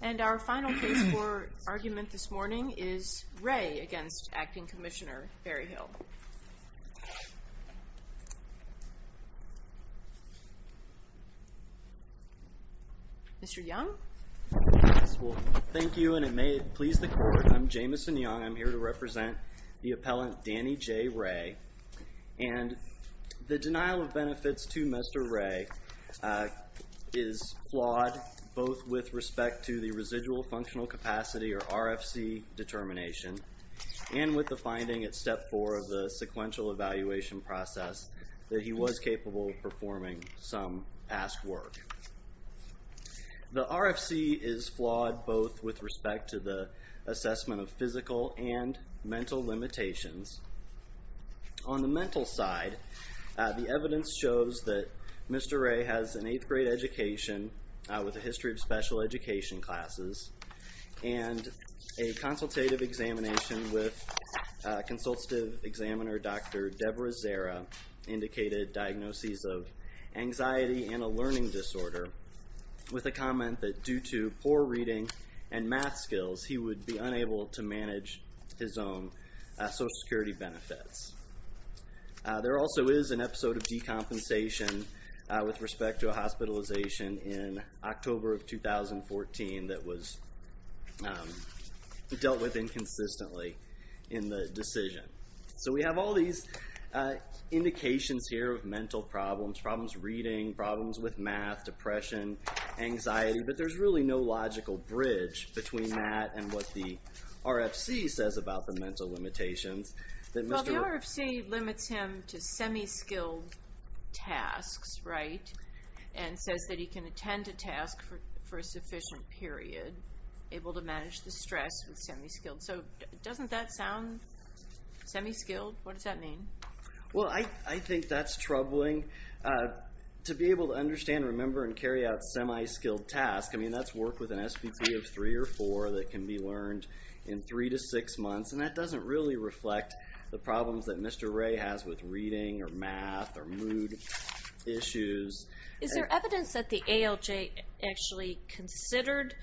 And our final case for argument this morning is Ray against acting Commissioner Berryhill. Mr. Young. Thank you and it may please the court I'm Jamison Young I'm here to represent the appellant Danny J. Ray and the denial of with respect to the residual functional capacity or RFC determination and with the finding at step four of the sequential evaluation process that he was capable of performing some past work. The RFC is flawed both with respect to the assessment of physical and mental limitations. On the mental side the evidence shows that Mr. Ray has an eighth grade education with a history of special education classes and a consultative examination with consultative examiner Dr. Deborah Zera indicated diagnoses of anxiety and a learning disorder with a comment that due to poor reading and math skills he would be unable to manage his own Social Security benefits. There also is an episode of compensation with respect to a hospitalization in October of 2014 that was dealt with inconsistently in the decision. So we have all these indications here of mental problems, problems reading, problems with math, depression, anxiety, but there's really no logical bridge between that and what the RFC says about the mental limitations. Well the RFC limits him to semi-skilled tasks, right, and says that he can attend a task for a sufficient period able to manage the stress with semi-skilled. So doesn't that sound semi-skilled? What does that mean? Well I think that's troubling. To be able to understand, remember, and carry out semi-skilled tasks, I mean that's work with an SVP of three or four that can be learned in three to six months and that or math or mood issues. Is there evidence that the ALJ actually considered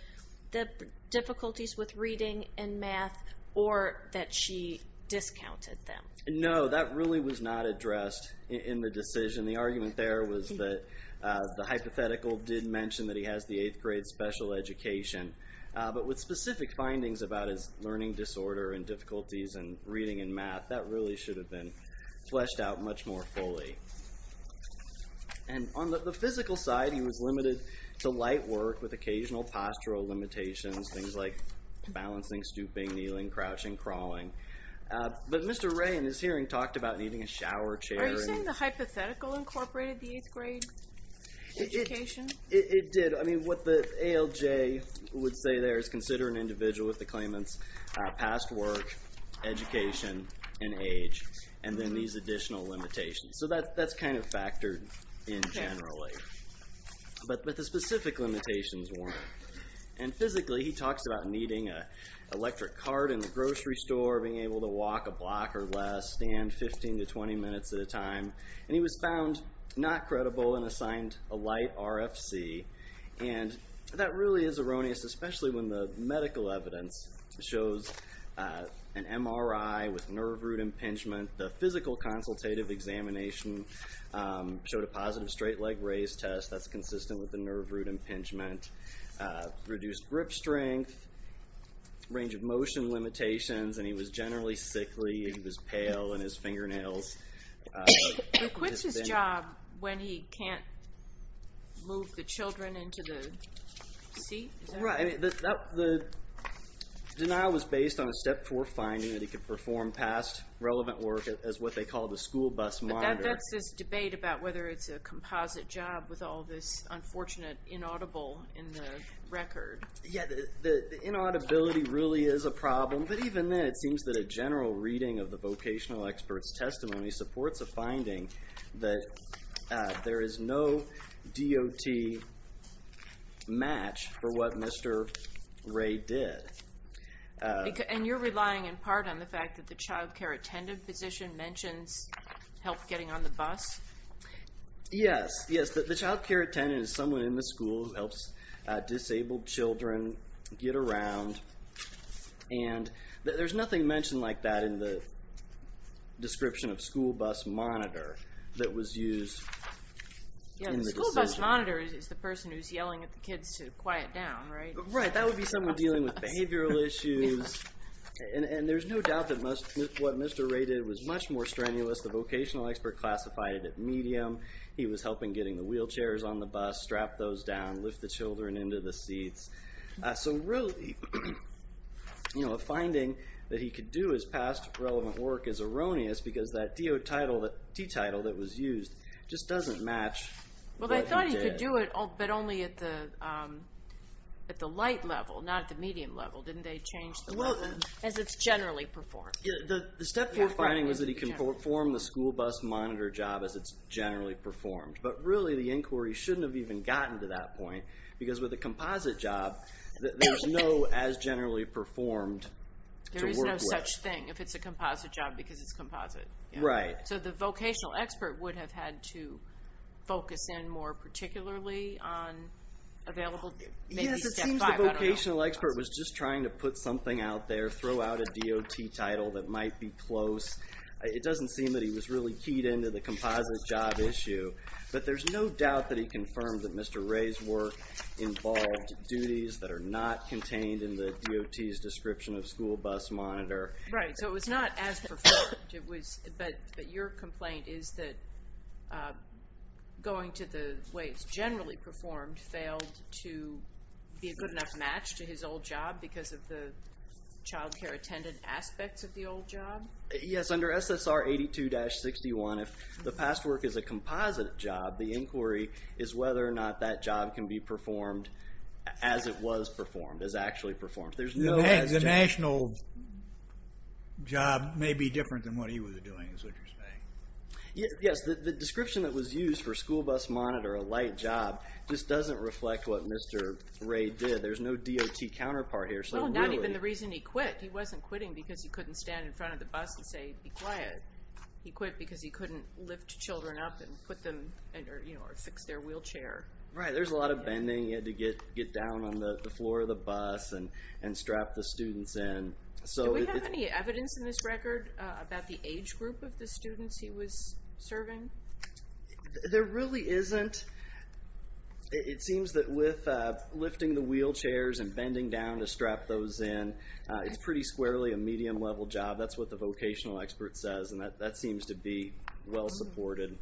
the difficulties with reading and math or that she discounted them? No, that really was not addressed in the decision. The argument there was that the hypothetical did mention that he has the eighth grade special education, but with specific findings about his learning disorder and difficulties and reading and math that really should have been fleshed out much more fully. And on the physical side he was limited to light work with occasional postural limitations, things like balancing, stooping, kneeling, crouching, crawling. But Mr. Ray in his hearing talked about needing a shower chair. Are you saying the hypothetical incorporated the eighth grade education? It did. I mean what the ALJ would say there is consider an individual with the claimant's past work, education, and age and then these additional limitations. So that's kind of factored in generally. But the specific limitations weren't. And physically he talks about needing a electric cart in the grocery store, being able to walk a block or less, stand 15 to 20 minutes at a time. And he was found not credible and that really is erroneous especially when the medical evidence shows an MRI with nerve root impingement. The physical consultative examination showed a positive straight leg raise test that's consistent with the nerve root impingement. Reduced grip strength, range of motion limitations, and he was generally sickly. He was pale and his fingernails. He quits his job when he can't move the children into the seat? Right. The denial was based on a step four finding that he could perform past relevant work as what they call the school bus monitor. But that's this debate about whether it's a composite job with all this unfortunate inaudible in the record. Yeah the inaudibility really is a problem. But even then it seems that a general reading of the vocational experts testimony supports a finding that there is no DOT match for what Mr. Ray did. And you're relying in part on the fact that the child care attendant position mentions help getting on the bus? Yes, yes. The child care attendant is someone in the school who helps disabled children get around and there's nothing mentioned like that in the description of school bus monitor that was used. The school bus monitor is the person who's yelling at the kids to quiet down, right? Right, that would be someone dealing with behavioral issues and there's no doubt that what Mr. Ray did was much more strenuous. The vocational expert classified it at medium. He was helping getting the wheelchairs on the bus, strap those down, lift the children into the seats. So really, you know, a finding that he could do his past relevant work is erroneous because that DOT title, the T title that was used, just doesn't match. Well they thought he could do it but only at the light level, not the medium level. Didn't they change the level as it's generally performed? The step four finding was that he can perform the school bus monitor job as it's generally performed. But really the they haven't even gotten to that point because with a composite job, there's no as generally performed to work with. There is no such thing if it's a composite job because it's composite. Right. So the vocational expert would have had to focus in more particularly on available, maybe step five. Yes, it seems the vocational expert was just trying to put something out there, throw out a DOT title that might be close. It doesn't seem that he was really keyed into the composite job issue. But there's no doubt that he confirmed that Mr. Ray's work involved duties that are not contained in the DOT's description of school bus monitor. Right, so it was not as performed. But your complaint is that going to the way it's generally performed failed to be a good enough match to his old job because of the childcare attendant aspects of the old job? Yes, under SSR 82-61, if the past work is a composite job, the inquiry is whether or not that job can be performed as it was performed, as actually performed. The national job may be different than what he was doing, is what you're saying. Yes, the description that was used for school bus monitor, a light job, just doesn't reflect what Mr. Ray did. There's no DOT counterpart here. Not even the reason he quit. He wasn't quitting because he couldn't stand in front of the bus and say, be quiet. He quit because he couldn't lift children up and put them, you know, or fix their wheelchair. Right, there's a lot of bending. He had to get down on the floor of the bus and strap the students in. Do we have any evidence in this record about the age group of the students he was serving? There really isn't. It seems that with lifting the wheelchairs and bending down to strap those in, it's pretty squarely a medium level job. That's what the vocational expert says. And that seems to be well supported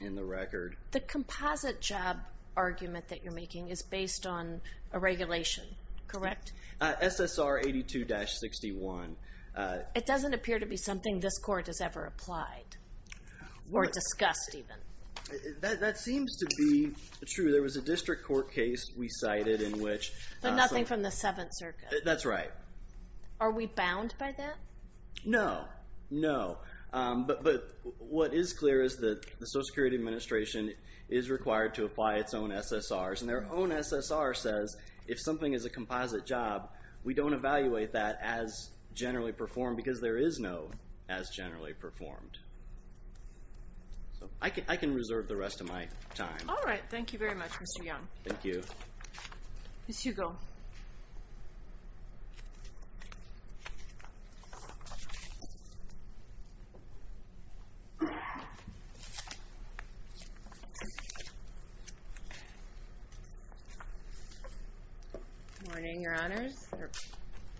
in the record. The composite job argument that you're making is based on a regulation, correct? SSR 82-61. It doesn't appear to be something this court has ever applied, or discussed even. That seems to be true. There was a district court case we cited in which... Nothing from the Seventh Circuit. That's right. Are we bound by that? No, no. But what is clear is that the Social Security Administration is required to apply its own SSRs. And their own SSR says, if something is a composite job, we don't evaluate that as generally performed, because there is no as generally performed. I can reserve the rest of my time. All right, thank you very much, Mr. Young. Thank you. Ms. Hugo. Good morning, Your Honors. Or,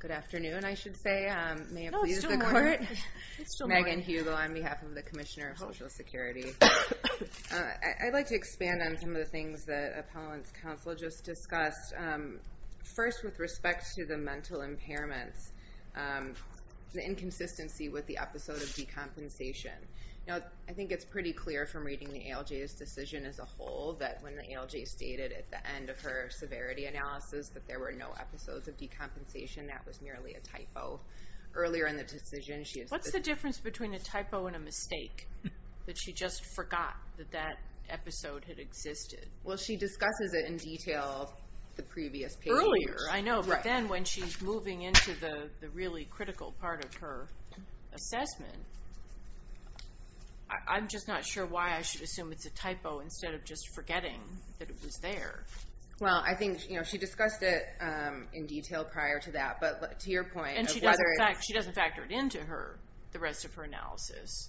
good afternoon, I should say. No, it's still morning. Megan Hugo on behalf of the Commissioner of Social Security. I'd like to expand on some of the things that Appellant's counsel just discussed. First, with respect to the mental impairments, the inconsistency with the episode of decompensation. Now, I think it's pretty clear from reading the ALJ's decision as a whole, that when the ALJ stated at the end of her severity analysis that there were no episodes of decompensation, that was merely a typo. Earlier in the decision, she has... forgot that that episode had existed. Well, she discusses it in detail the previous period. Earlier, I know, but then when she's moving into the really critical part of her assessment, I'm just not sure why I should assume it's a typo instead of just forgetting that it was there. Well, I think she discussed it in detail prior to that, but to your point... And she doesn't factor it into her, the rest of her analysis.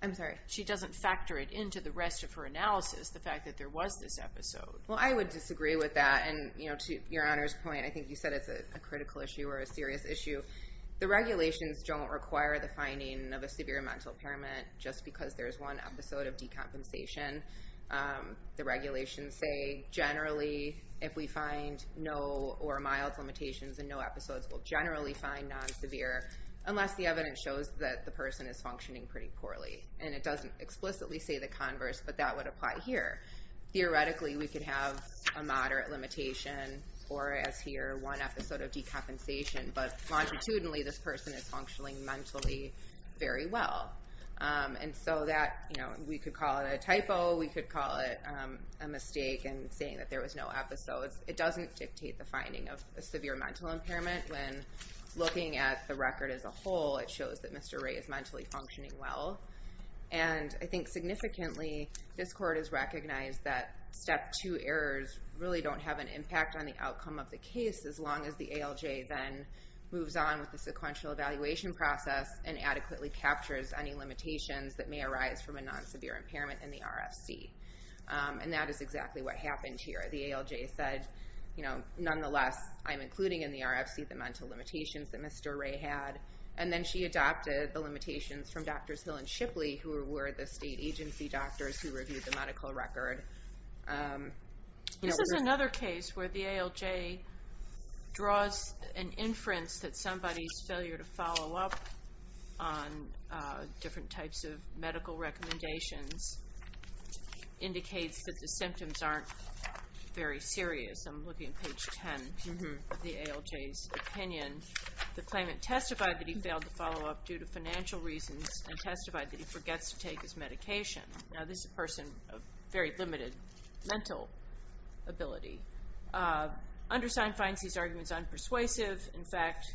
I'm sorry? She doesn't factor it into the rest of her analysis, the fact that there was this episode. Well, I would disagree with that. And to your Honor's point, I think you said it's a critical issue or a serious issue. The regulations don't require the finding of a severe mental impairment just because there's one episode of decompensation. The regulations say, generally, if we find no or mild limitations, then no episodes will generally find non-severe, unless the evidence shows that the person is functioning pretty poorly. And it doesn't explicitly say the converse, but that would apply here. Theoretically, we could have a moderate limitation or, as here, one episode of decompensation, but longitudinally, this person is functioning mentally very well. And so we could call it a typo, we could call it a mistake in saying that there was no episodes. It doesn't dictate the finding of a severe mental impairment when looking at the record as a whole, it shows that Mr. Ray is mentally functioning well. And I think significantly, this Court has recognized that Step 2 errors really don't have an impact on the outcome of the case, as long as the ALJ then moves on with the sequential evaluation process and adequately captures any limitations that may arise from a non-severe impairment in the RFC. And that is exactly what happened here. The ALJ said, you know, nonetheless, I'm including in the RFC the mental limitations that Mr. Ray had. And then she adopted the limitations from Drs. Hill and Shipley, who were the state agency doctors who reviewed the medical record. This is another case where the ALJ draws an inference that somebody's failure to follow up on different types of medical recommendations indicates that the symptoms aren't very serious. I'm looking at page 10 of the ALJ's opinion. The claimant testified that he failed to follow up due to financial reasons and testified that he forgets to take his medication. Now, this is a person of very limited mental ability. Undersign finds these arguments unpersuasive. In fact,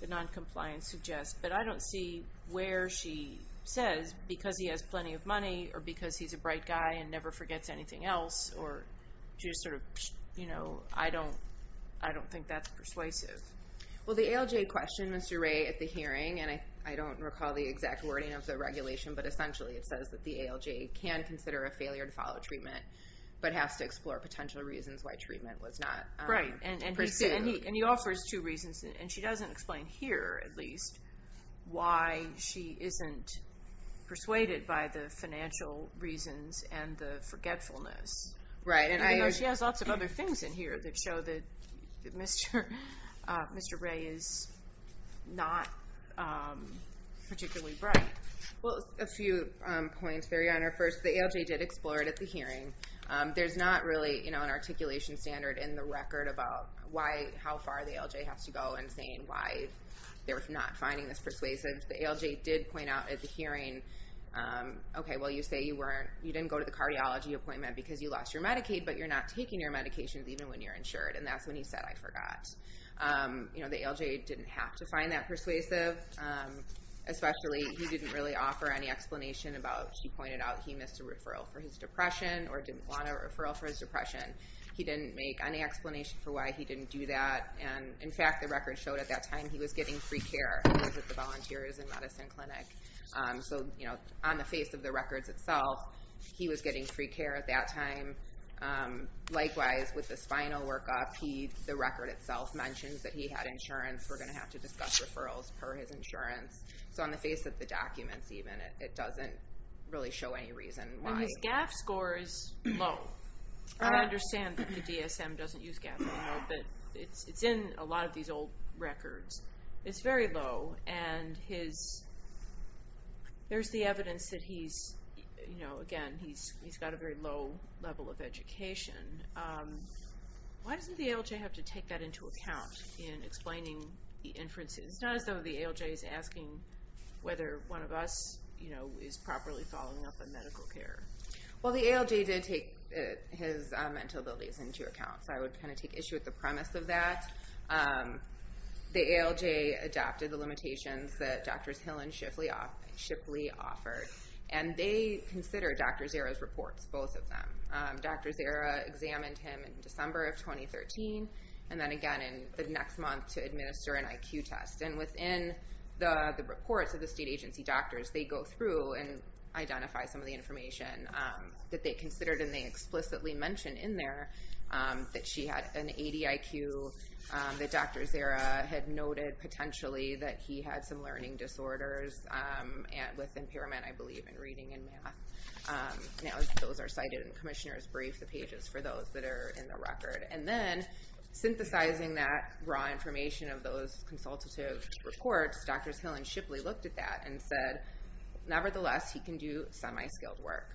the noncompliance suggests, but I don't see where she says, because he has plenty of money or because he's a bright guy and never forgets anything else, or just sort of, you know, I don't think that's persuasive. Well, the ALJ questioned Mr. Ray at the hearing, and I don't recall the exact wording of the regulation, but essentially it says that the ALJ can consider a failure to follow treatment but has to explore potential reasons why treatment was not pursued. Right, and he offers two reasons, and she doesn't explain here, at least, why she isn't persuaded by the financial reasons and the forgetfulness. Right. Even though she has lots of other things in here that show that Mr. Ray is not particularly bright. Well, a few points vary on her. First, the ALJ did explore it at the hearing. There's not really, you know, an articulation standard in the record about how far the ALJ has to go in saying why they're not finding this persuasive. The ALJ did point out at the hearing, okay, well, you say you didn't go to the cardiology appointment because you lost your Medicaid, but you're not taking your medications even when you're insured, and that's when he said, I forgot. You know, the ALJ didn't have to find that persuasive, especially he didn't really offer any explanation about, he pointed out he missed a referral for his depression or didn't want a referral for his depression. He didn't make any explanation for why he didn't do that. And, in fact, the record showed at that time he was getting free care because of the volunteers and medicine clinic. So, you know, on the face of the records itself, he was getting free care at that time. Likewise, with the spinal workup, the record itself mentions that he had insurance. We're going to have to discuss referrals per his insurance. So on the face of the documents even, it doesn't really show any reason why. His GAF score is low. I understand that the DSM doesn't use GAF anymore, but it's in a lot of these old records. It's very low, and there's the evidence that he's, you know, again, he's got a very low level of education. Why doesn't the ALJ have to take that into account in explaining the inferences? It's not as though the ALJ is asking whether one of us, you know, is properly following up on medical care. Well, the ALJ did take his mental abilities into account, so I would kind of take issue with the premise of that. The ALJ adopted the limitations that Drs. Hill and Shipley offered, and they consider Dr. Zera's reports, both of them. Dr. Zera examined him in December of 2013, and then again in the next month to administer an IQ test. And within the reports of the state agency doctors, they go through and identify some of the information that they considered, and they explicitly mention in there that she had an ADIQ, that Dr. Zera had noted potentially that he had some learning disorders with impairment, I believe, in reading and math. Those are cited in Commissioner's Brief, the pages for those that are in the record. And then, synthesizing that raw information of those consultative reports, Drs. Hill and Shipley looked at that and said, nevertheless, he can do semi-skilled work.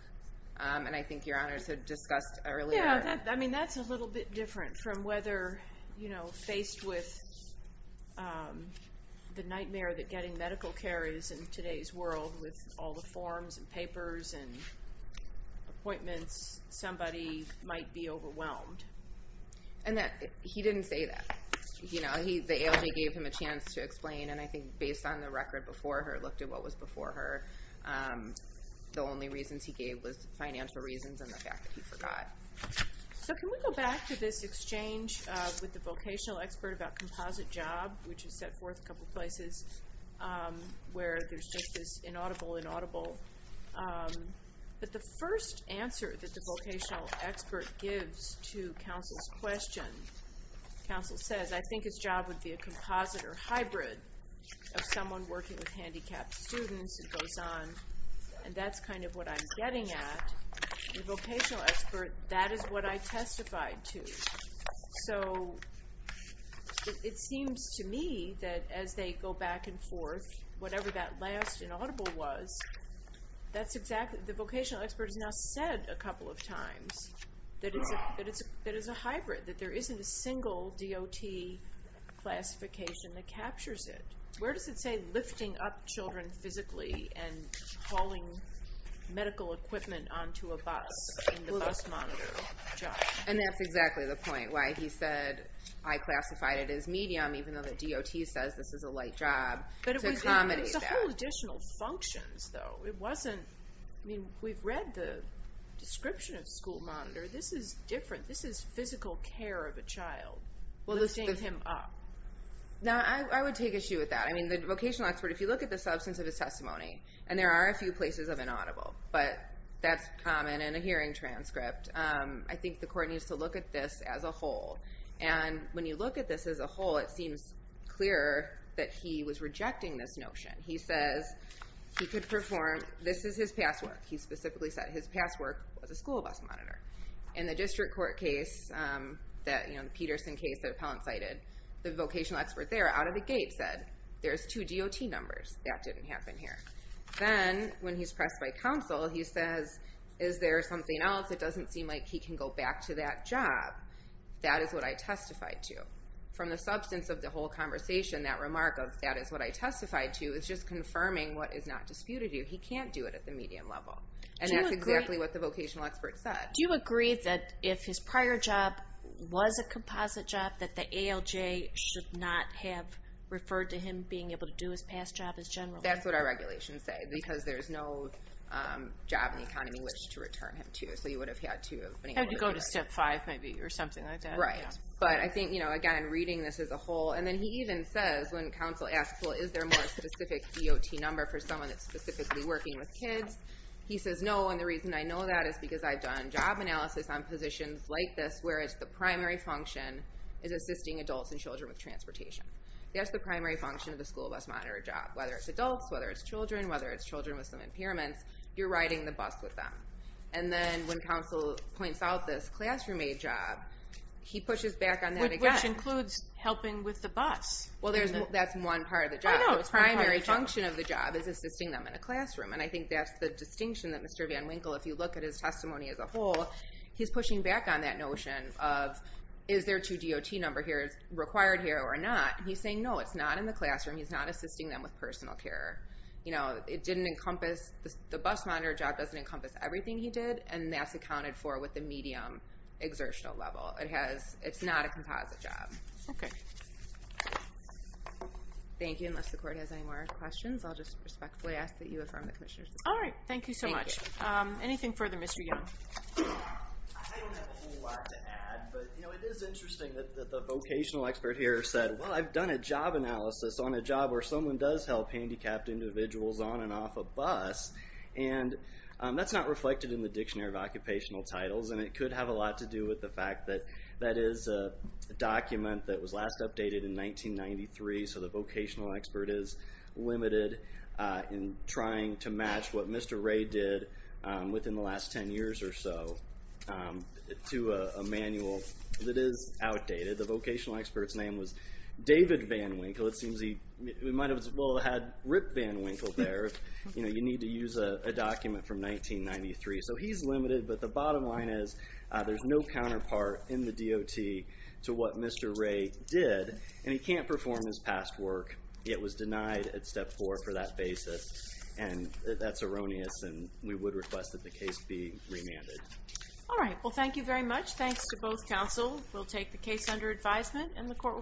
And I think Your Honors had discussed earlier. Yeah, I mean, that's a little bit different from whether, you know, faced with the nightmare that getting medical care is in today's world with all the forms and papers and appointments, somebody might be overwhelmed. And that he didn't say that. You know, the ALJ gave him a chance to explain, and I think based on the record before her, looked at what was before her, the only reasons he gave was financial reasons and the fact that he forgot. So can we go back to this exchange with the vocational expert about composite job, which is set forth a couple places where there's just this inaudible, inaudible. But the first answer that the vocational expert gives to counsel's question, counsel says, I think his job would be a composite or hybrid of someone working with handicapped students. It goes on, and that's kind of what I'm getting at. The vocational expert, that is what I testified to. So it seems to me that as they go back and forth, whatever that last inaudible was, the vocational expert has now said a couple of times that it's a hybrid, that there isn't a single DOT classification that captures it. Where does it say lifting up children physically and hauling medical equipment onto a bus in the bus monitor job? And that's exactly the point, why he said I classified it as medium, even though the DOT says this is a light job to accommodate that. But it was a whole additional function, though. It wasn't, I mean, we've read the description of school monitor. This is different. This is physical care of a child, lifting him up. Now, I would take issue with that. I mean, the vocational expert, if you look at the substance of his testimony, and there are a few places of inaudible, but that's common in a hearing transcript. I think the court needs to look at this as a whole. And when you look at this as a whole, it seems clearer that he was rejecting this notion. He says he could perform, this is his past work. He specifically said his past work was a school bus monitor. In the district court case, the Peterson case that Appellant cited, the vocational expert there, out of the gate, said there's two DOT numbers. That didn't happen here. Then, when he's pressed by counsel, he says, is there something else? It doesn't seem like he can go back to that job. That is what I testified to. From the substance of the whole conversation, that remark of, that is what I testified to, is just confirming what is not disputed here. He can't do it at the medium level. And that's exactly what the vocational expert said. Do you agree that if his prior job was a composite job, that the ALJ should not have referred to him being able to do his past job as general? That's what our regulations say, because there's no job in the economy which to return him to, so he would have had to have been able to do that. Have to go to step five, maybe, or something like that. Right. But I think, again, reading this as a whole, and then he even says, when counsel asks, well, is there a more specific DOT number for someone that's specifically working with kids? He says, no, and the reason I know that is because I've done job analysis on positions like this, where it's the primary function is assisting adults and children with transportation. That's the primary function of the school bus monitor job, whether it's adults, whether it's children, whether it's children with some impairments, you're riding the bus with them. And then when counsel points out this classroom-aid job, he pushes back on that again. Which includes helping with the bus. Well, that's one part of the job. Oh, no, it's one part of the job. The primary function of the job is assisting them in a classroom, and I think that's the distinction that Mr. Van Winkle, if you look at his testimony as a whole, he's pushing back on that notion of is there two DOT numbers required here or not? And he's saying, no, it's not in the classroom. He's not assisting them with personal care. You know, the bus monitor job doesn't encompass everything he did, and that's accounted for with the medium exertional level. It's not a composite job. Okay. Thank you. Unless the court has any more questions, I'll just respectfully ask that you affirm the commissioner's decision. All right. Thank you so much. Anything further, Mr. Young? I don't have a whole lot to add, but it is interesting that the vocational expert here said, well, I've done a job analysis on a job where someone does help handicapped individuals on and off a bus, and that's not reflected in the Dictionary of Occupational Titles, and it could have a lot to do with the fact that that is a document that was last updated in 1993, so the vocational expert is limited in trying to match what Mr. Ray did within the last 10 years or so to a manual that is outdated. The vocational expert's name was David Van Winkle. It seems he might as well have had Rip Van Winkle there. You know, you need to use a document from 1993. So he's limited, but the bottom line is there's no counterpart in the DOT to what Mr. Ray did, and he can't perform his past work. It was denied at Step 4 for that basis, and that's erroneous, and we would request that the case be remanded. All right. Well, thank you very much. Thanks to both counsel. We'll take the case under advisement, and the court will be adjourned.